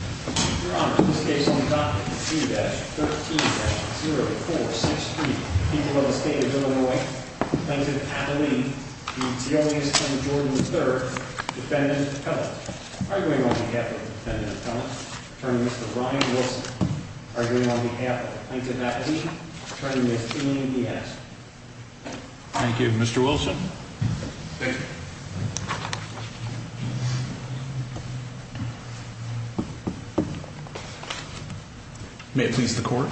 Oh, 13 keesel. Third defendant then are doing on behalf hurting this. Thank you, Mr Wilson. Mhm. May it please the court.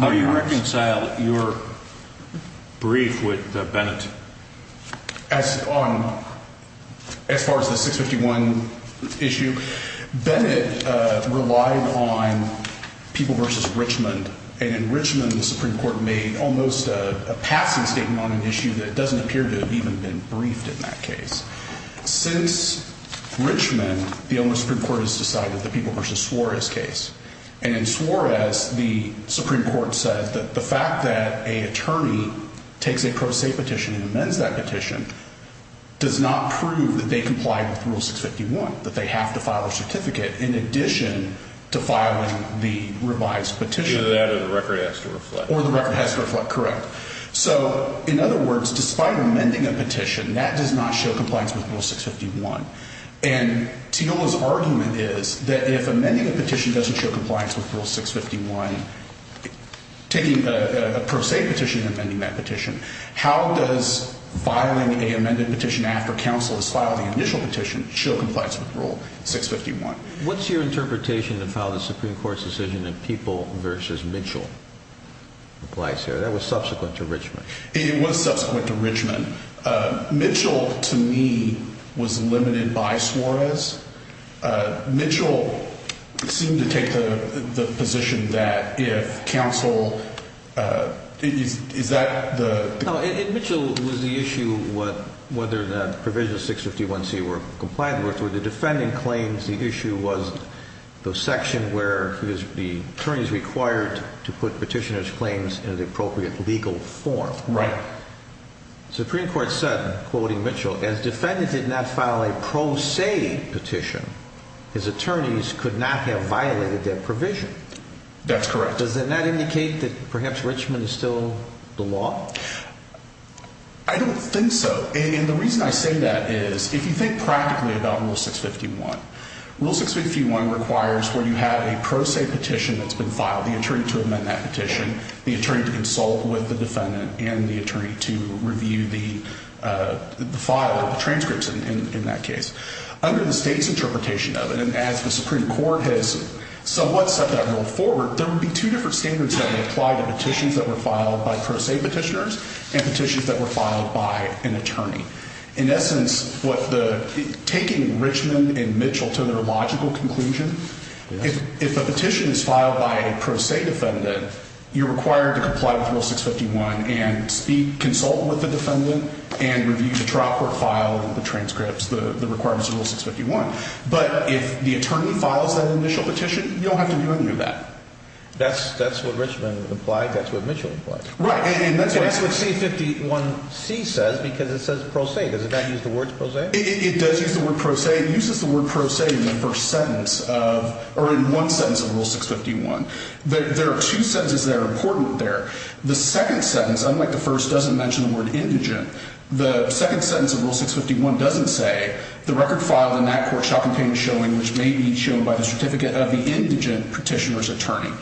How do you reconcile your brief with Bennett as on as far as the 6 51 issue, Bennett relied on people versus Richmond and in Richmond, the Supreme Court made almost a passing statement on an issue that doesn't appear to have even been briefed in that case. Since Richmond, the only Supreme Court has decided the people versus Suarez case and in Suarez, the Supreme Court said that the fact that a attorney takes a pro se petition and amends that petition does not prove that they comply with rule 6 51 that they have to file a certificate in addition to filing the revised petition that of the record has to reflect or the record has to reflect. Correct. So in other words, despite amending a petition that does not show compliance with rule 6 51 and to know his argument is that if amending a petition doesn't show compliance with rule 6 51 taking a pro se petition, amending that petition. How does filing a amended petition after counsel is filed the initial petition show compliance with rule 6 51. What's your interpretation of how the Supreme Court's decision of people versus Mitchell applies here? That was subsequent to Richmond. It was subsequent to Richmond. Mitchell to me was limited by Suarez. Uh, Mitchell seemed to take the position that if counsel, uh, is that the Mitchell was the issue? What? Whether the provision of 6 51 C were compliant with the defending claims, the issue was the section where the attorneys required to put petitioners claims in appropriate legal form. Right. Supreme Court said, quoting Mitchell as defendant did not file a pro se petition. His attorneys could not have violated their provision. That's correct. Does that not indicate that perhaps Richmond is still the law? I don't think so. And the reason I say that is if you think practically about rule 6 51 rule 6 51 requires where you have a pro se petition that's been filed, the attorney to amend that petition, the attorney to consult with the defendant and the attorney to review the, uh, the file transcripts in that case under the state's interpretation of it. And as the Supreme Court has somewhat set that rule forward, there would be two different standards that apply to petitions that were filed by pro se petitioners and petitions that were filed by an attorney. In essence, what the taking Richmond and Mitchell to their logical conclusion, if a petition is filed by pro se defendant, you're required to comply with rule 6 51 and speak, consult with the defendant and review the drop or file of the transcripts, the requirements of rule 6 51. But if the attorney files that initial petition, you don't have to do any of that. That's that's what Richmond implied. That's what Mitchell right. And that's what C 51 C says, because it says pro se. Does it not use the words pro se? It does use the word pro se uses the word pro se in the first sentence of or in one sentence of rule 6 51. There are two sentences that are important there. The second sentence, unlike the first, doesn't mention the word indigent. The second sentence of rule 6 51 doesn't say the record filed in that court shall contain showing which may be shown by the certificate of the indigent petitioner's attorney.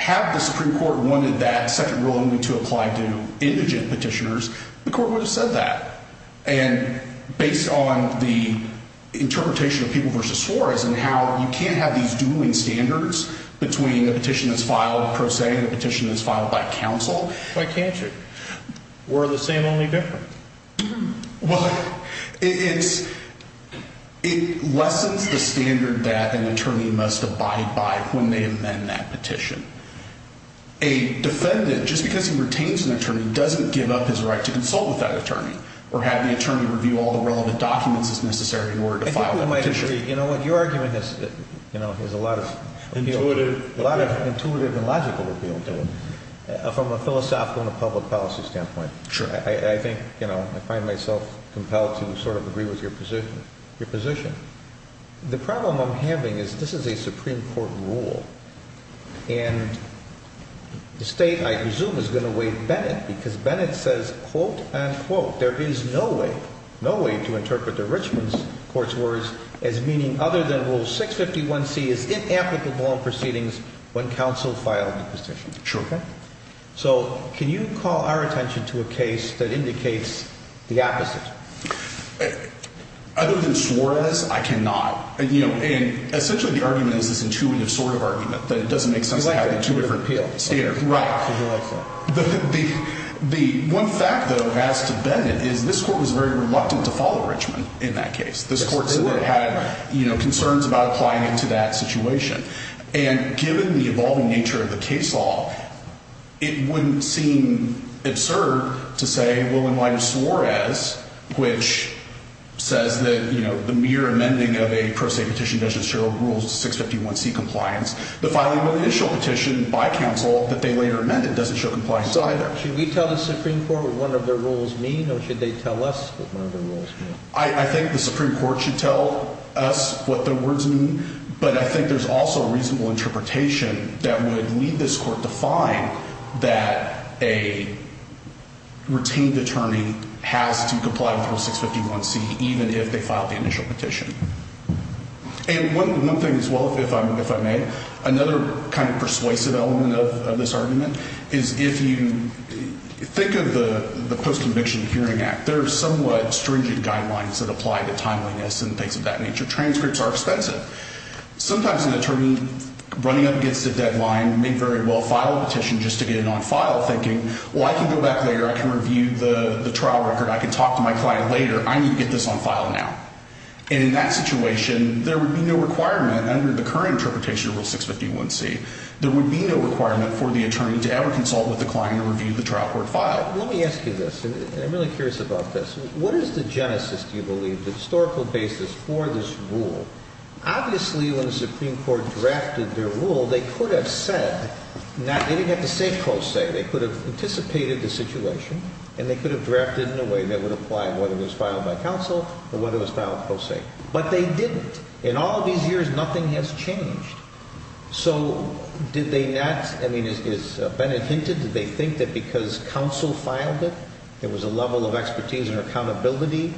Have the Supreme Court wanted that second rule only to apply to indigent petitioners. The court would have said that and based on the interpretation of people versus for us and how you can't have these ruling standards between the petition is filed pro se petition is filed by counsel. Why can't you were the same only different? Well, it's it lessens the standard that an attorney must abide by when they amend that petition. A defendant, just because he retains an attorney, doesn't give up his right to consult with that attorney or have the attorney review all the relevant documents is necessary in order to file a petition. You know what you are doing this? You know, there's a lot of intuitive, a lot of intuitive and logical appeal to it from a philosophical and public policy standpoint. Sure. I think, you know, I find myself compelled to sort of agree with your position, your position. The problem I'm having is this is a Supreme Court rule and the state, I presume, is going to wait. Bennett because Bennett says, quote unquote, there is no way, no way to interpret the Richmond's court's words as meaning other than rule 651 C is inapplicable proceedings when counsel filed the petition. Sure. So can you call our attention to a case that indicates the opposite? Other than Suarez, I cannot, you know, and essentially the argument is this intuitive sort of argument that it doesn't make sense to have two different appeals here, right? The one fact though, as to Bennett, is this court was very reluctant to follow Richmond in that case. This court said it had, you know, concerns about applying it to that situation. And given the evolving nature of the case law, it wouldn't seem absurd to say, well, in light of Suarez, which says that, you know, the mere amending of a pro se petition doesn't show rules 651 C compliance, the filing of the initial petition by counsel that they later amended doesn't show compliance either. Should we tell the Supreme Court what one of their rules mean or should they tell us what one of their rules mean? I think the Supreme Court should tell us what the words mean, but I think there's also a reasonable interpretation that would lead this court to find that a retained attorney has to comply with rule 651 C, even if they filed the initial petition. And one thing as well, if I may, another kind of post-conviction hearing act, there are somewhat stringent guidelines that apply to timeliness and things of that nature. Transcripts are expensive. Sometimes an attorney running up against a deadline may very well file a petition just to get it on file thinking, well, I can go back later. I can review the trial record. I can talk to my client later. I need to get this on file now. And in that situation, there would be no requirement under the current interpretation of rule 651 C, there would be no requirement for the attorney to ever consult with the client or review the trial court file. Let me ask you this, and I'm really curious about this. What is the genesis, do you believe, the historical basis for this rule? Obviously, when the Supreme Court drafted their rule, they could have said, they didn't have to say pro se, they could have anticipated the situation and they could have drafted in a way that would apply whether it was filed by counsel or whether it was filed pro se, but they didn't. In all these years, nothing has changed. So did they not, I mean, is Bennett hinted, did they think that because counsel filed it, there was a level of expertise and accountability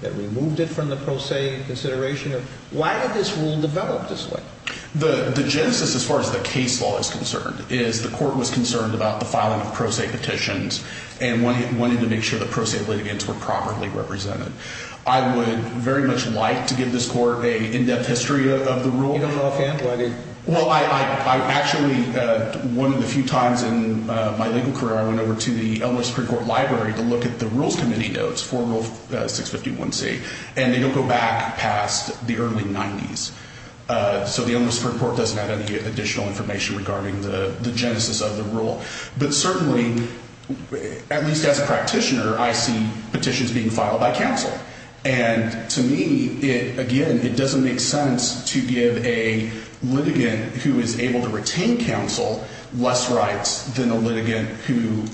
that removed it from the pro se consideration? Why did this rule develop this way? The genesis, as far as the case law is concerned, is the court was concerned about the filing of pro se petitions and wanted to make sure the pro se litigants were properly represented. I would very much like to give this court a in-depth history of the rule. You don't know offhand why they... Well, I actually, one of the few times in my legal career, I went over to the Elmhurst Supreme Court library to look at the rules committee notes for rule 651C and they don't go back past the early 90s. So the Elmhurst Supreme Court doesn't have any additional information regarding the genesis of the rule. But certainly, at least as a practitioner, I see petitions being filed by counsel. And to me, again, it doesn't make sense to give a counsel less rights than a litigant who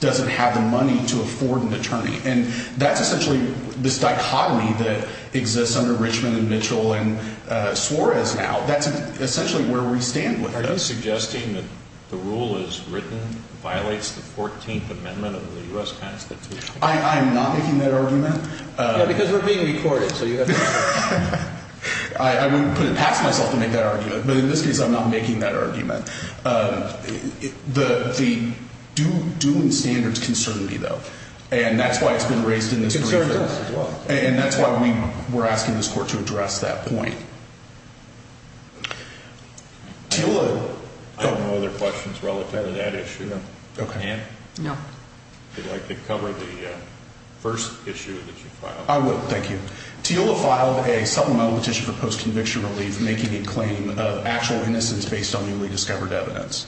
doesn't have the money to afford an attorney. And that's essentially this dichotomy that exists under Richmond and Mitchell and Suarez now. That's essentially where we stand with it. Are you suggesting that the rule as written violates the 14th Amendment of the U.S. Constitution? I'm not making that argument. Because we're being recorded. So you have to... I wouldn't put it past myself to make that argument. But in this case, I'm not making that argument. The dueling standards concern me, though. And that's why it's been raised in this briefcase. And that's why we're asking this court to address that point. I don't know other questions relative to that issue. Ann, would you like to cover the first issue that you filed? I would. Thank you. Teola filed a supplemental petition for post-conviction relief making a claim of actual undiscovered evidence.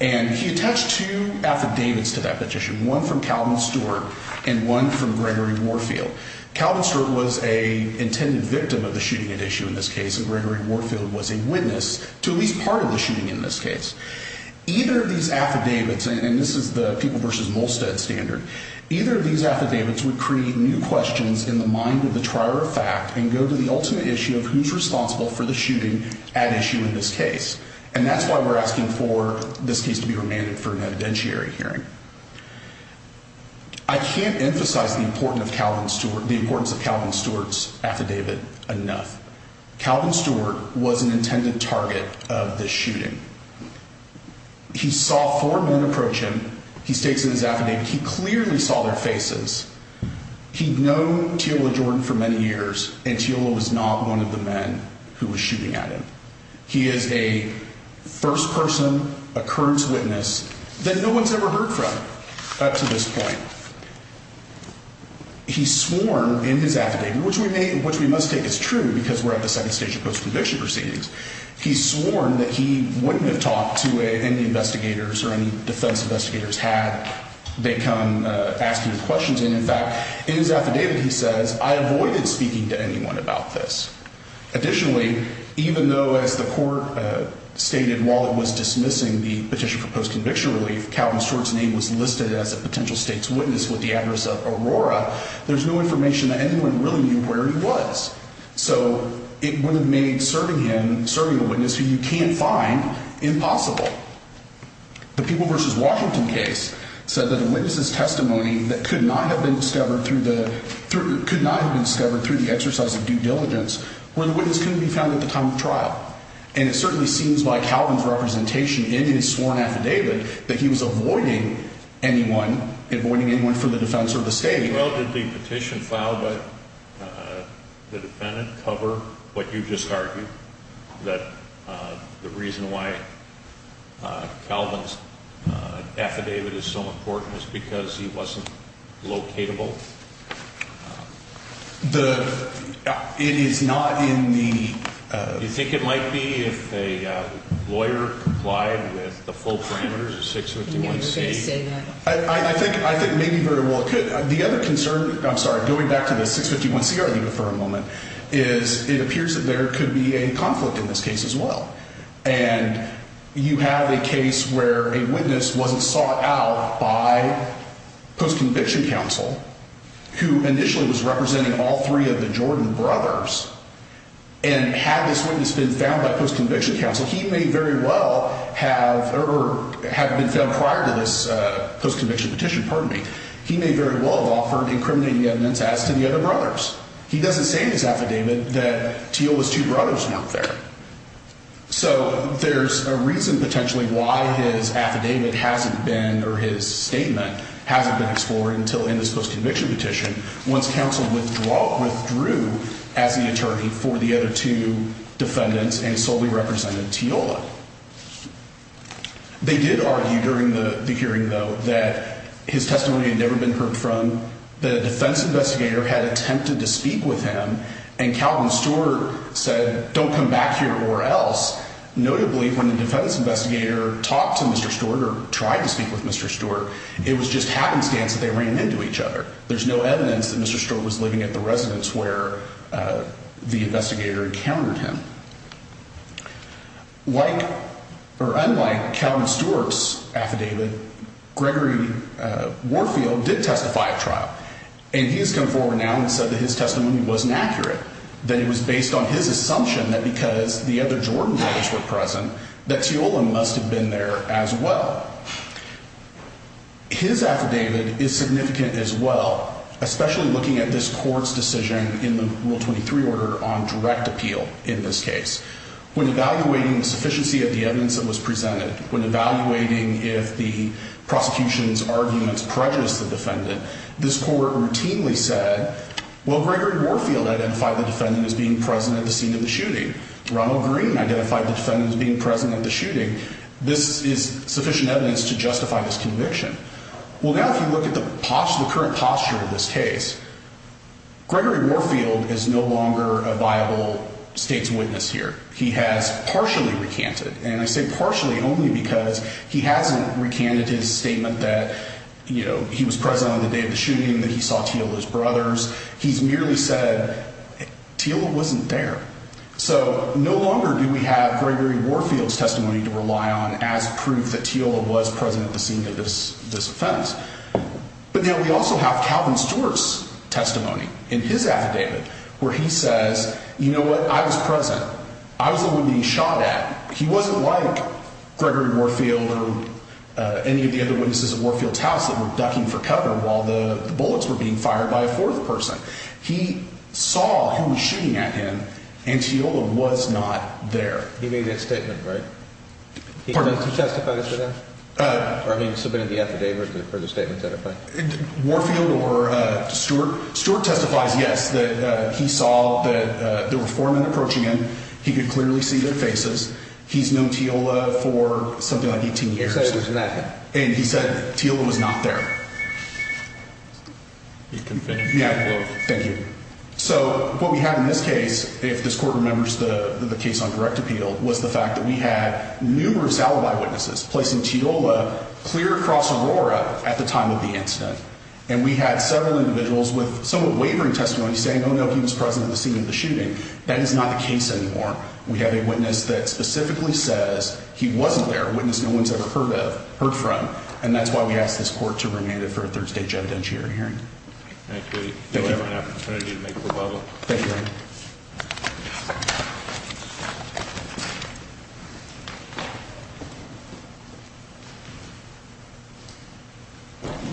And he attached two affidavits to that petition, one from Calvin Stewart and one from Gregory Warfield. Calvin Stewart was an intended victim of the shooting at issue in this case. And Gregory Warfield was a witness to at least part of the shooting in this case. Either of these affidavits, and this is the People v. Molstead standard, either of these affidavits would create new questions in the mind of the trier of fact and go to the ultimate issue of who's responsible for the shooting at issue in this case. And that's why we're asking for this case to be remanded for an evidentiary hearing. I can't emphasize the importance of Calvin Stewart's affidavit enough. Calvin Stewart was an intended target of the shooting. He saw four men approach him. He states in his affidavit he clearly saw their faces. He'd known Teola Jordan for many years, and Teola was not one of the men who was shooting at him. He is a first person, a current witness that no one's ever heard from up to this point. He's sworn in his affidavit, which we may, which we must take as true because we're at the second stage of post-conviction proceedings. He's sworn that he wouldn't have talked to any investigators or any defense investigators had they come asking questions. And in fact, in his affidavit, he says, I avoided speaking to anyone about this. Additionally, even though, as the court stated, while it was dismissing the petition for post-conviction relief, Calvin Stewart's name was listed as a potential state's witness with the address of Aurora, there's no information that anyone really knew where he was. So it would have made serving him, serving a witness who you can't find, impossible. The People v. Washington case said that a witness's testimony that could not have been discovered through the, could not have been where the witness couldn't be found at the time of trial. And it certainly seems like Calvin's representation in his sworn affidavit that he was avoiding anyone, avoiding anyone from the defense or the state. Well, did the petition filed by the defendant cover what you just argued? That the reason why Calvin's affidavit is so important is because he wasn't locatable? The, it is not in the, do you think it might be if a lawyer complied with the full parameters of 651C? I think, I think maybe very well it could. The other concern, I'm sorry, going back to the 651C argument for a moment, is it appears that there could be a conflict in this case as well. And you have a case where a witness wasn't sought out by post-conviction counsel who initially was representing all three of the Jordan brothers. And had this witness been found by post-conviction counsel, he may very well have, or have been found prior to this post-conviction petition. Pardon me. He may very well have offered incriminating evidence as to the other brothers. He doesn't say in his affidavit that Teal was two brothers out there. Once counsel withdrew as the attorney for the other two defendants and solely represented Teal. They did argue during the hearing, though, that his testimony had never been heard from. The defense investigator had attempted to speak with him and Calvin Stewart said, don't come back here or else. Notably, when the defense investigator talked to Mr. Stewart or tried to speak with Mr. Stewart, it was just happenstance that they ran into each other. There's no evidence that Mr. Stewart was living at the residence where the investigator encountered him. Like or unlike Calvin Stewart's affidavit, Gregory Warfield did testify at trial and he has come forward now and said that his testimony wasn't accurate. That it was based on his assumption that because the other Jordan brothers were present, that Teal must have been there as well. His affidavit is significant as well, especially looking at this court's decision in the Rule 23 order on direct appeal in this case. When evaluating the sufficiency of the evidence that was presented, when evaluating if the prosecution's arguments prejudiced the defendant, this court routinely said, well, Gregory Warfield identified the defendant as being present at the scene of the shooting. Ronald Green identified the defendant as being present at the shooting. This is sufficient evidence to justify this conviction. Well, now if you look at the current posture of this case, Gregory Warfield is no longer a viable state's witness here. He has partially recanted, and I say partially only because he hasn't recanted his statement that, you know, he was present on the day of the shooting, that he saw Teal and his brothers. He's merely said, Teal wasn't there. So no longer do we have testimony to rely on as proof that Teal was present at the scene of this offense. But now we also have Calvin Stewart's testimony in his affidavit where he says, you know what? I was present. I was the one being shot at. He wasn't like Gregory Warfield or any of the other witnesses at Warfield's house that were ducking for cover while the bullets were being fired by a fourth person. He saw who was shooting at him, and Teal was not there. He made a statement, right? He testifies to that? Or I mean, submitting the affidavit for the statement that I find? Warfield or Stewart testifies, yes, that he saw that there were four men approaching him. He could clearly see their faces. He's known Teal for something like 18 years. And he said, Teal was not there. You can finish. Yeah, thank you. So what we have in this case, if this court remembers the case on direct appeal, was the fact that we had numerous alibi witnesses placing Teal clear across Aurora at the time of the incident. And we had several individuals with somewhat wavering testimony saying, oh, no, he was present at the scene of the shooting. That is not the case anymore. We have a witness that specifically says he wasn't there. A witness no one's ever heard of, heard from. And that's why we asked this court to remand it for a third stage evidentiary hearing. Thank you.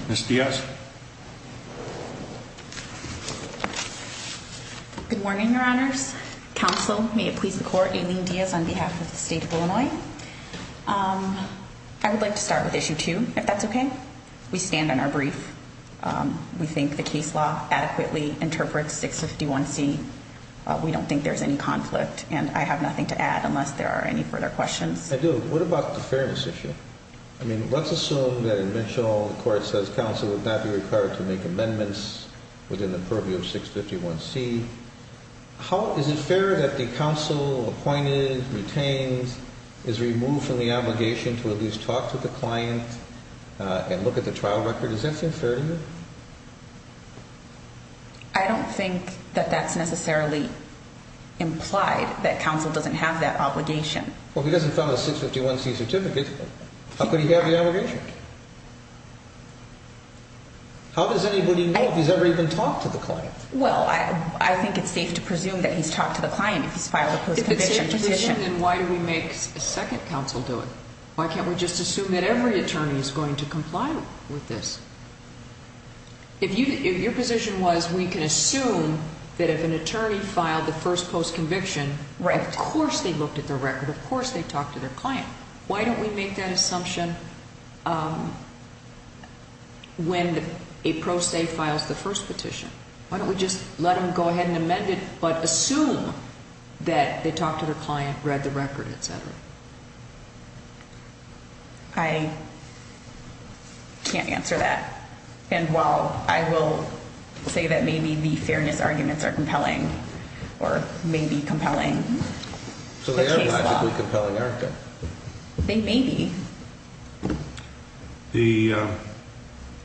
Miss Diaz. Good morning, Your Honors. Counsel, may it please the court, Aileen Diaz on behalf of the state of Illinois. I would like to start with issue two, if that's okay. We stand in our brief. We think the case law adequately interprets 651 C. We don't think there's any conflict, and I have nothing to add unless there are any further questions. I do. What about the fairness issue? I mean, let's assume that in Mitchell, the court says counsel would not be required to make amendments within the purview of 651 C. Is it fair that the counsel appointed, retained, is removed from the obligation to at least talk to the client and look at the trial record? Is that fair to you? I don't think that that's necessarily implied that counsel doesn't have that obligation. Well, if he doesn't file a 651 C certificate, how could he have the obligation? How does anybody know if he's ever even talked to the client? Well, I think it's safe to presume that he's talked to the client if he's filed a post-conviction petition. If it's safe to presume, then why do we make a second counsel do it? Why can't we just assume that every attorney is going to comply with this? If your position was we can assume that if an attorney filed the first post-conviction, of course they looked at the record, of course they talked to their client. Why don't we make that assumption when a pro se files the first petition? Why don't we just let them go ahead and amend it, but assume that they talked to their client, read the record, etc.? I can't answer that. And while I will say that maybe the fairness arguments are compelling, or may be compelling. So they are logically compelling, aren't they? They may be. The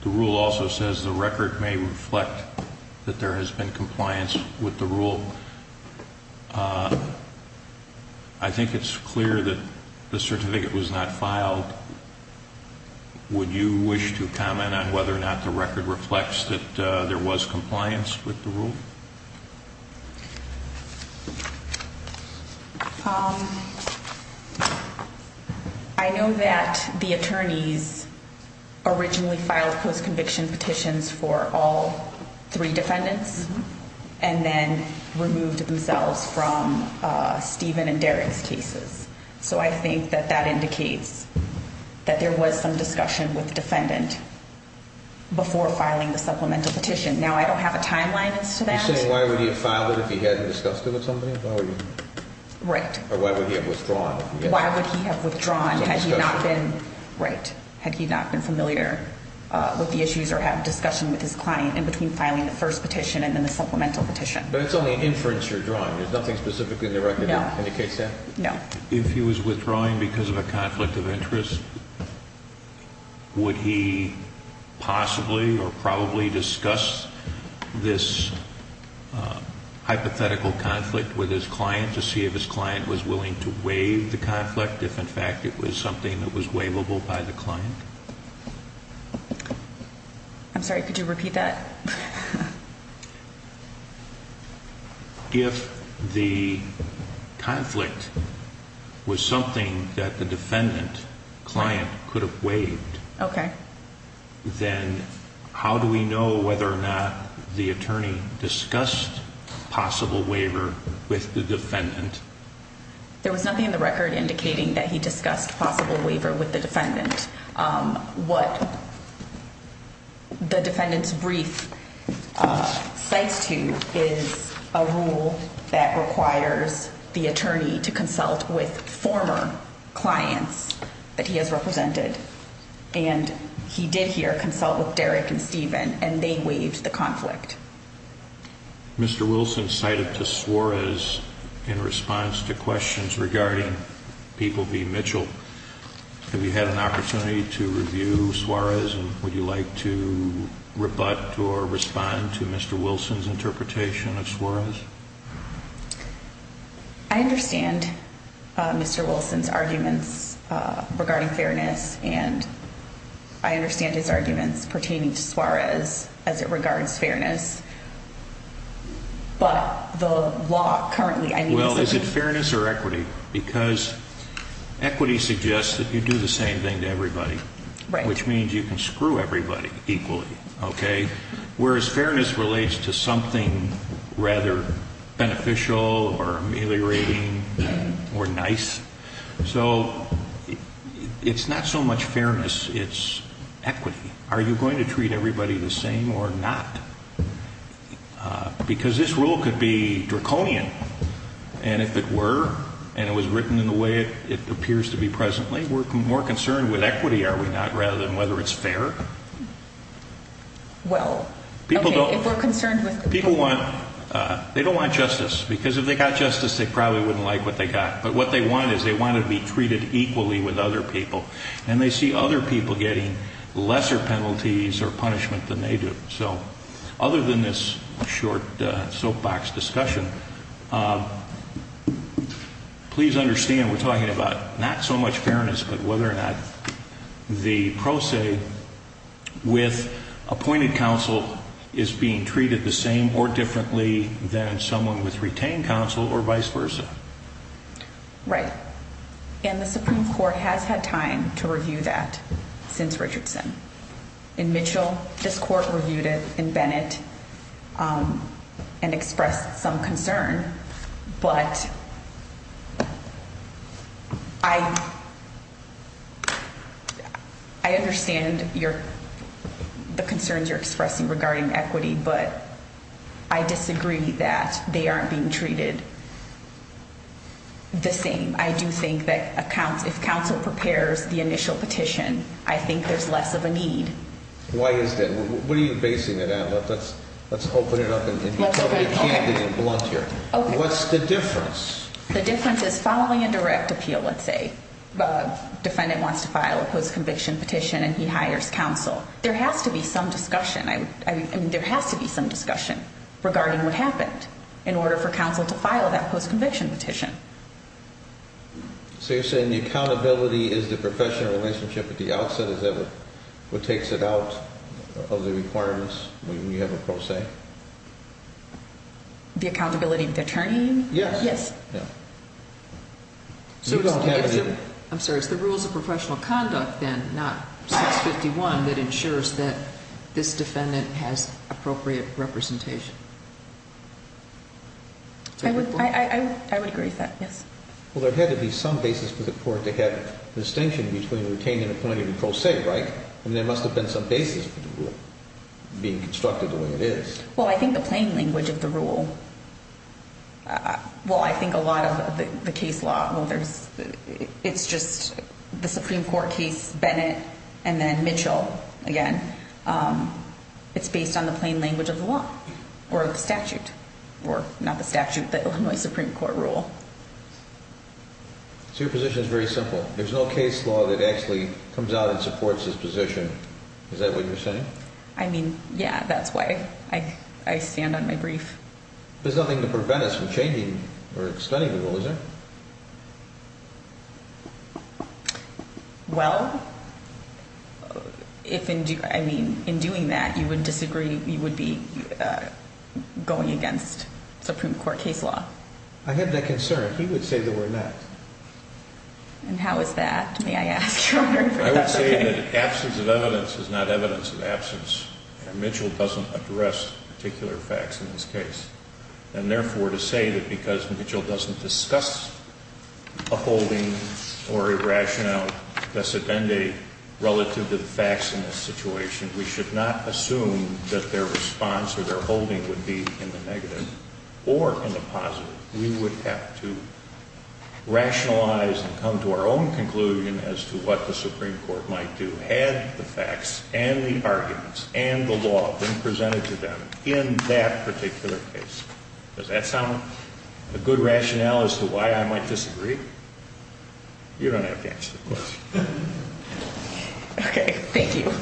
rule also says the record may reflect that there has been compliance with the rule. I think it's clear that the certificate was not filed. Would you wish to comment on whether or not the record reflects that there was compliance with the rule? I know that the attorneys originally filed post-conviction petitions for all three defendants and then removed themselves from Stephen and Derek's cases. So I think that that indicates that there was some discussion with the defendant before filing the supplemental petition. Now, I don't have a timeline as to that. You're saying why would he have filed it if he hadn't discussed it with somebody? Right. Or why would he have withdrawn? Why would he have withdrawn had he not been familiar with the issues or had a discussion with his client in between filing the first petition and then the supplemental petition? But it's only an inference you're drawing. There's nothing specifically in the record that indicates that? No. If he was withdrawing because of a conflict of interest, would he possibly or probably discuss this hypothetical conflict with his client to see if his client was willing to waive the conflict, if in fact it was something that was waivable by the client? I'm sorry, could you repeat that? If the conflict was something that the defendant client could have waived, then how do we know whether or not the attorney discussed possible waiver with the defendant? There was nothing in the record indicating that he discussed possible waiver with the defendant. What the defendant's brief cites to is a rule that requires the attorney to consult with former clients that he has represented. And he did here consult with Derek and Steven and they waived the conflict. Mr. Wilson cited to Suarez in response to questions regarding people being Mitchell. Have you had an opportunity to review Suarez? And would you like to rebut or respond to Mr. Wilson's interpretation of Suarez? I understand Mr. Wilson's arguments regarding fairness and I understand his arguments pertaining to Suarez as it regards fairness. But the law currently, I mean, Well, is it fairness or equity? Because equity suggests that you do the same thing to everybody, which means you can screw everybody equally, okay? Whereas fairness relates to something rather beneficial or ameliorating or nice. So it's not so much fairness, it's equity. Are you going to treat everybody the same or not? Because this rule could be draconian. And if it were, and it was written in the way it appears to be presently, we're more concerned with equity, are we not, rather than whether it's fair? Well, okay, if we're concerned with the people. People want, they don't want justice because if they got justice, they probably wouldn't like what they got. But what they want is they want to be treated equally with other people. And they see other people getting lesser penalties or punishment than they do. So other than this short soapbox discussion, please understand we're talking about not so much fairness, but whether or not the pro se with appointed counsel is being treated the same or differently than someone with retained counsel or vice versa. Right. And the Supreme Court has had time to review that since Richardson. In Mitchell, this court reviewed it in Bennett and expressed some concern. But I understand the concerns you're expressing regarding equity, but I disagree that they aren't being treated the same. I do think that if counsel prepares the initial petition, I think there's less of a need. Why is that? What are you basing it on? Let's open it up and be candid and blunt here. What's the difference? The difference is following a direct appeal, let's say. Defendant wants to file a post-conviction petition and he hires counsel. There has to be some discussion. I mean, there has to be some discussion regarding what happened in order for counsel to file that post-conviction petition. So you're saying the accountability is the professional relationship at the outset? Is that what takes it out of the requirements when you have a pro se? The accountability of the attorney? Yes. Yes. I'm sorry, it's the rules of professional conduct then, not 651, that ensures that this defendant has appropriate representation. I would agree with that, yes. Well, there had to be some basis for the court to have a distinction between retained and appointed and pro se, right? I mean, there must have been some basis for the rule being constructed the way it is. Well, I think the plain language of the rule. Well, I think a lot of the case law, it's just the Supreme Court case, Bennett and then Mitchell again. It's based on the plain language of the law or the statute, or not the statute, the Illinois Supreme Court rule. So your position is very simple. There's no case law that actually comes out and supports this position. Is that what you're saying? I mean, yeah, that's why. I stand on my brief. There's nothing to prevent us from changing or extending the rule, is there? Well, in doing that, you would disagree. You would be going against Supreme Court case law. I have that concern. He would say the word not. And how is that? May I ask your honor? I would say that absence of evidence is not evidence of absence. And Mitchell doesn't address particular facts in this case. And therefore, to say that because Mitchell doesn't discuss a holding or a rationale de sedende relative to the facts in this situation, we should not assume that their response or their holding would be in the negative or in the positive. We would have to rationalize and come to our own conclusion as to what the Supreme Court might do, add the facts, and the arguments, and the law being presented to them in that particular case. Does that sound a good rationale as to why I might disagree? You don't have to answer the question. Okay, thank you.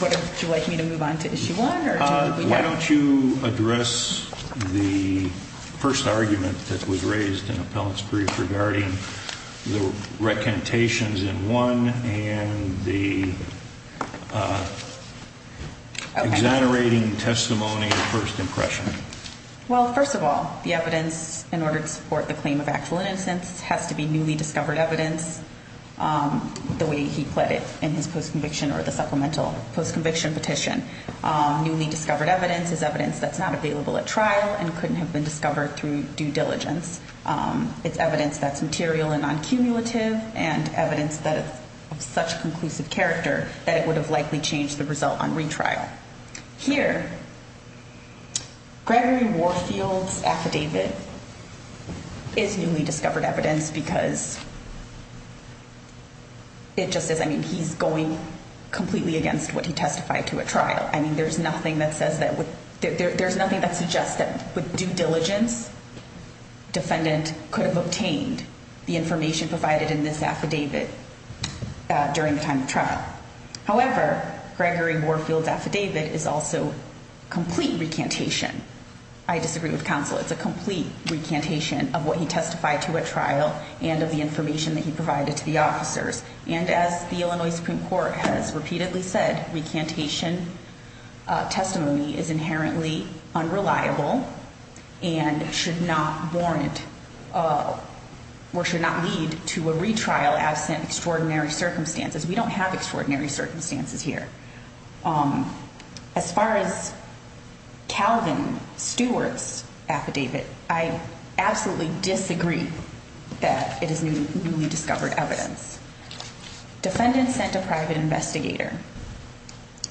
Would you like me to move on to issue one, or do we- Why don't you address the first argument that was raised in recantations in one, and the exonerating testimony of first impression? Well, first of all, the evidence in order to support the claim of actual innocence has to be newly discovered evidence, the way he pled it in his post conviction or the supplemental post conviction petition. Newly discovered evidence is evidence that's not available at trial and couldn't have been discovered through due diligence. It's evidence that's material and non-cumulative, and evidence that is of such conclusive character that it would have likely changed the result on retrial. Here, Gregory Warfield's affidavit is newly discovered evidence because it just says, I mean, he's going completely against what he testified to at trial. I mean, there's nothing that says that would, there's nothing that suggests that with due diligence, defendant could have obtained the information provided in this affidavit during the time of trial. However, Gregory Warfield's affidavit is also complete recantation. I disagree with counsel. It's a complete recantation of what he testified to at trial and of the information that he provided to the officers. And as the Illinois Supreme Court has repeatedly said, recantation testimony is inherently unreliable and should not warrant or should not lead to a retrial absent extraordinary circumstances. We don't have extraordinary circumstances here. As far as Calvin Stewart's affidavit, I absolutely disagree that it is newly discovered evidence. Defendant sent a private investigator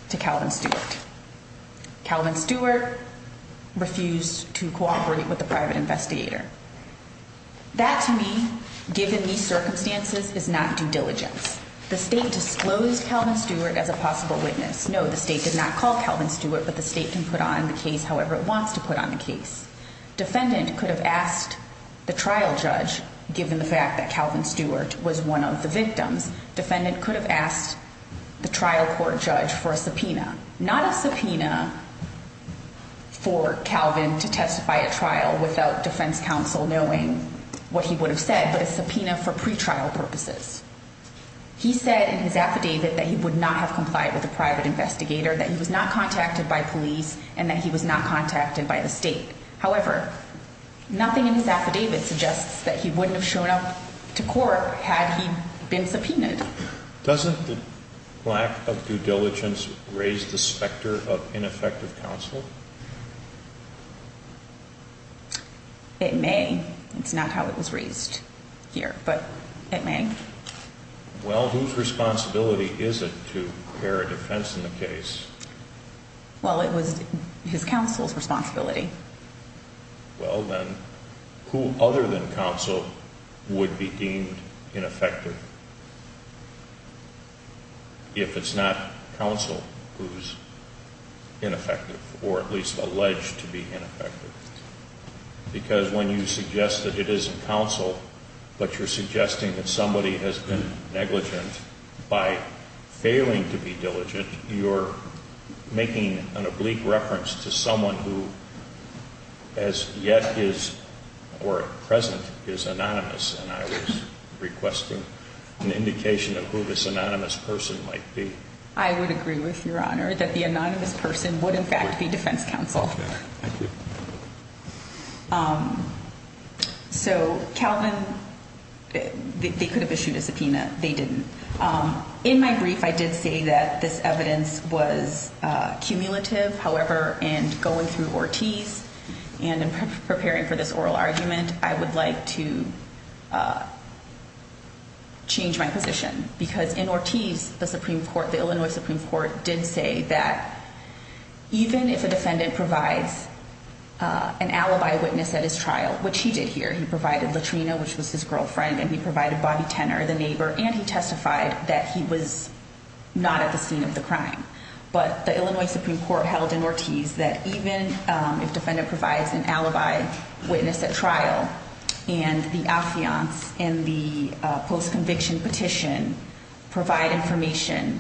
to Calvin Stewart. Calvin Stewart refused to cooperate with the private investigator. That to me, given these circumstances, is not due diligence. The state disclosed Calvin Stewart as a possible witness. No, the state did not call Calvin Stewart, but the state can put on the case however it wants to put on the case. Defendant could have asked the trial judge, given the fact that Calvin Stewart was one of the victims. Defendant could have asked the trial court judge for a subpoena. Not a subpoena for Calvin to testify at trial without defense counsel knowing what he would have said, but a subpoena for pretrial purposes. He said in his affidavit that he would not have complied with the private investigator, that he was not contacted by police, and that he was not contacted by the state. However, nothing in his affidavit suggests that he wouldn't have shown up to court had he been subpoenaed. Doesn't the lack of due diligence raise the specter of ineffective counsel? It may. It's not how it was raised here, but it may. Well, whose responsibility is it to bear a defense in the case? Well, it was his counsel's responsibility. Well, then, who other than counsel would be deemed ineffective? If it's not counsel who's ineffective, or at least alleged to be ineffective. Because when you suggest that it isn't counsel, but you're suggesting that somebody has been negligent by failing to be diligent, you're making an oblique reference to someone who as yet is, or at present, is anonymous. And I was requesting an indication of who this anonymous person might be. I would agree with your honor that the anonymous person would, in fact, be defense counsel. Thank you. So Calvin, they could have issued a subpoena. They didn't. In my brief, I did say that this evidence was cumulative. However, in going through Ortiz and in preparing for this oral argument, I would like to change my position. Because in Ortiz, the Supreme Court, the Illinois Supreme Court, did say that even if a defendant provides an alibi witness at his trial, which he did here, he provided Latrina, which was his girlfriend, and he provided Bobby Tenor, the neighbor, and he testified that he was not at the scene of the crime. But the Illinois Supreme Court held in Ortiz that even if defendant provides an alibi witness at trial, and the affiance and the post-conviction petition provide information,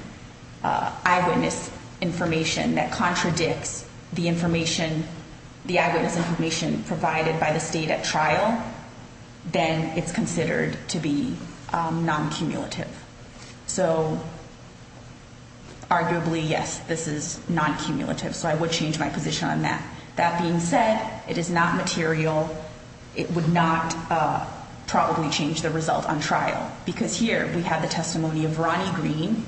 eyewitness information that contradicts the information, the eyewitness information provided by the state at trial, then it's considered to be non-cumulative. So arguably, yes, this is non-cumulative. So I would change my position on that. That being said, it is not material. It would not probably change the result on trial. Because here, we have the testimony of Ronnie Green,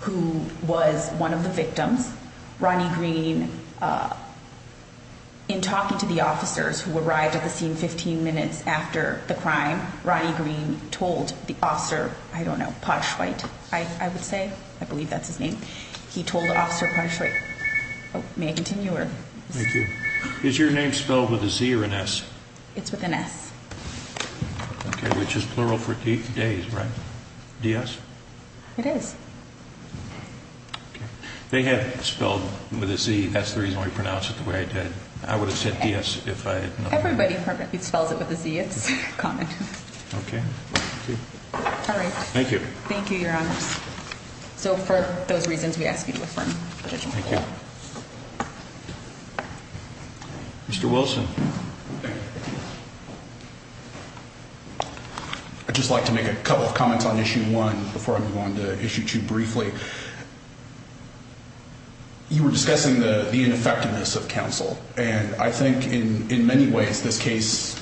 who was one of the victims. Ronnie Green, in talking to the officers who arrived at the scene 15 minutes after the crime, Ronnie Green told the officer, I don't know, Potschweit, I would say. I believe that's his name. He told Officer Potschweit. May I continue, or? Thank you. Is your name spelled with a Z or an S? It's with an S. Okay, which is plural for days, right? D-S? It is. Okay. They had it spelled with a Z. That's the reason we pronounced it the way I did. I would have said D-S if I had known. Everybody perfectly spells it with a Z. It's common. Okay. All right. Thank you. Thank you, Your Honors. So for those reasons, we ask you to affirm the petition. Thank you. Mr. Wilson. I'd just like to make a couple of comments on Issue 1 before I move on to Issue 2 briefly. You were discussing the ineffectiveness of counsel. And I think in many ways this case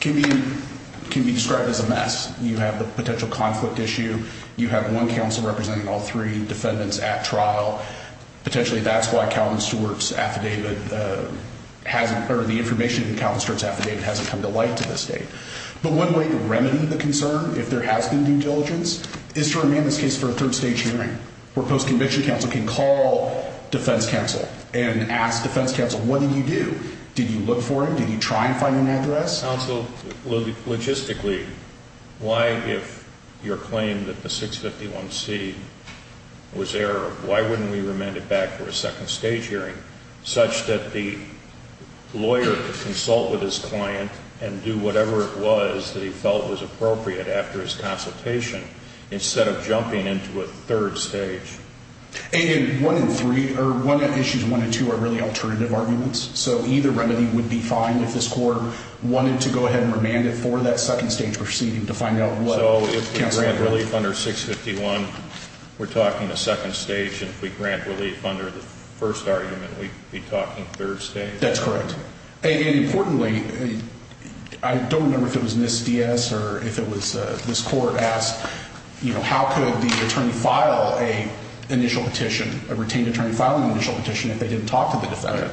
can be described as a mess. You have the potential conflict issue. You have one counsel representing all three defendants at trial. Potentially that's why Calvin Stewart's affidavit hasn't, or the information in Calvin Stewart's affidavit hasn't come to light to this date. But one way to remedy the concern, if there has been due diligence, is to remand this case for a third stage hearing where post-conviction counsel can call defense counsel and ask defense counsel, what did you do? Did you look for him? Did you try and find an address? Counsel, logistically, why if your claim that the 651C was error, why wouldn't we remand it back for a second stage hearing such that the lawyer could consult with his client and do whatever it was that he felt was appropriate after his consultation instead of jumping into a third stage? Issues 1 and 2 are really alternative arguments. So either remedy would be fine if this court wanted to go ahead and remand it for that second stage proceeding to find out what counsel had heard. So if we grant relief under 651, we're talking a second stage, and if we grant relief under the first argument, we'd be talking third stage? That's correct. And importantly, I don't remember if it was Ms. Diaz or if it was this court asked, you know, how could the attorney file an initial petition, a retained attorney file an initial petition if they didn't talk to the defendant?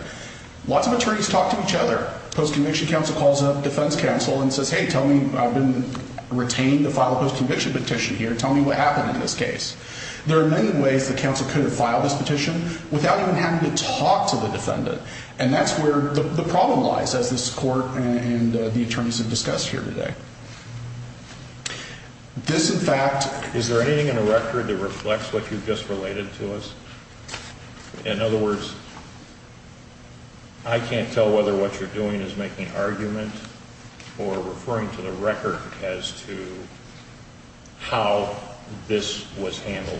Lots of attorneys talk to each other. Post-conviction counsel calls up defense counsel and says, hey, tell me, I've been retained to file a post-conviction petition here. Tell me what happened in this case. There are many ways that counsel could have filed this petition without even having to talk to the defendant. And that's where the problem lies, as this court and the attorneys have discussed here today. This, in fact, is there anything in the record that reflects what you've just related to us? In other words, I can't tell whether what you're doing is making argument or referring to the record as to how this was handled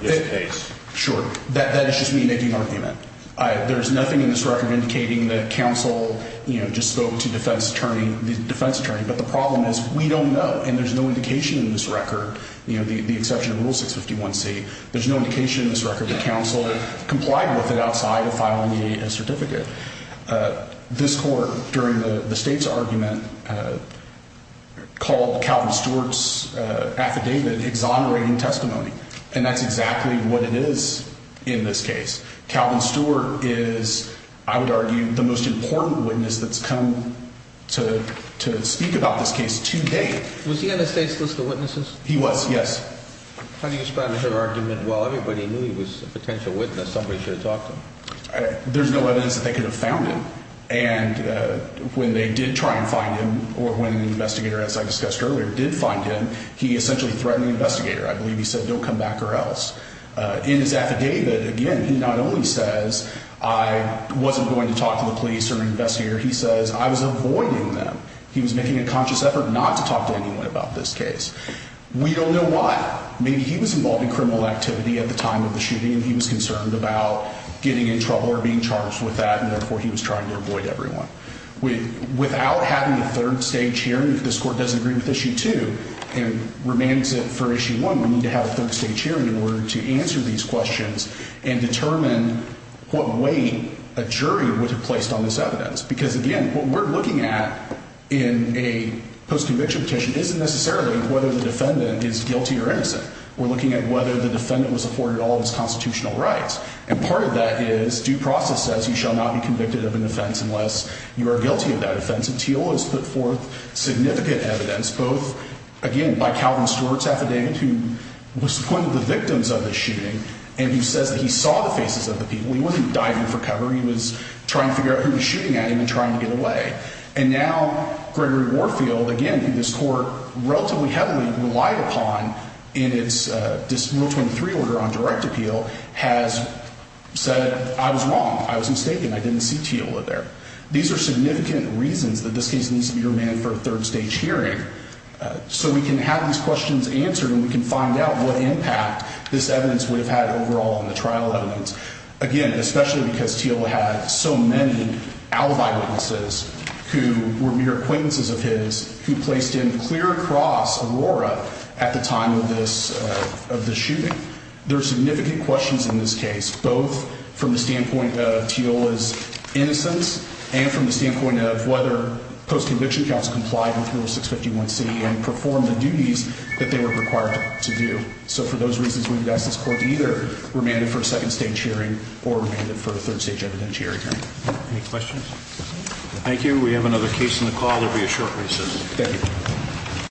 in this case. Sure. That is just me making argument. There's nothing in this record indicating that counsel, you know, just spoke to defense attorney, the defense attorney. But the problem is we don't know, and there's no indication in this record, you know, the exception to Rule 651C, there's no indication in this record that counsel complied with it outside of filing a certificate. This court, during the state's argument, called Calvin Stewart's affidavit exonerating testimony. And that's exactly what it is in this case. Calvin Stewart is, I would argue, the most important witness that's come to speak about this case to date. Was he on the state's list of witnesses? He was, yes. How do you respond to her argument? Well, everybody knew he was a potential witness. Somebody should have talked to him. There's no evidence that they could have found him. And when they did try and find him, or when an investigator, as I discussed earlier, did find him, he essentially threatened the investigator. I believe he said, don't come back or else. In his affidavit, again, he not only says, I wasn't going to talk to the police or an investigator, he says, I was avoiding them. He was making a conscious effort not to talk to anyone about this case. We don't know why. Maybe he was involved in criminal activity at the time of the shooting and he was concerned about getting in trouble or being charged with that, and therefore he was trying to avoid everyone. Without having a third-stage hearing, if this Court doesn't agree with Issue 2 and remains it for Issue 1, we need to have a third-stage hearing in order to answer these questions and determine what weight a jury would have placed on this evidence. Because, again, what we're looking at in a post-conviction petition isn't necessarily whether the defendant is guilty or innocent. We're looking at whether the defendant was afforded all of his constitutional rights. And part of that is, due process says you shall not be convicted of an offense unless you are guilty of that offense. And Teal has put forth significant evidence, both, again, by Calvin Stewart's affidavit, who was one of the victims of the shooting, and who says that he saw the faces of the people. He wasn't diving for cover. He was trying to figure out who was shooting at him and trying to get away. And now Gregory Warfield, again, who this Court relatively heavily relied upon in its Rule 23 order on direct appeal, has said, I was wrong. I was mistaken. I didn't see Teal there. These are significant reasons that this case needs to be remanded for a third-stage hearing so we can have these questions answered and we can find out what impact this evidence would have had overall on the trial evidence. Again, especially because Teal had so many alibi witnesses who were mere acquaintances of his who placed him clear across Aurora at the time of this shooting. There are significant questions in this case, both from the standpoint of Teal's innocence and from the standpoint of whether post-conviction counsel complied with Rule 651C and performed the duties that they were required to do. So for those reasons, we would ask this Court to either remand it for a second-stage hearing or remand it for a third-stage evidentiary hearing. Any questions? Thank you. We have another case on the call. There will be a short recess. Thank you.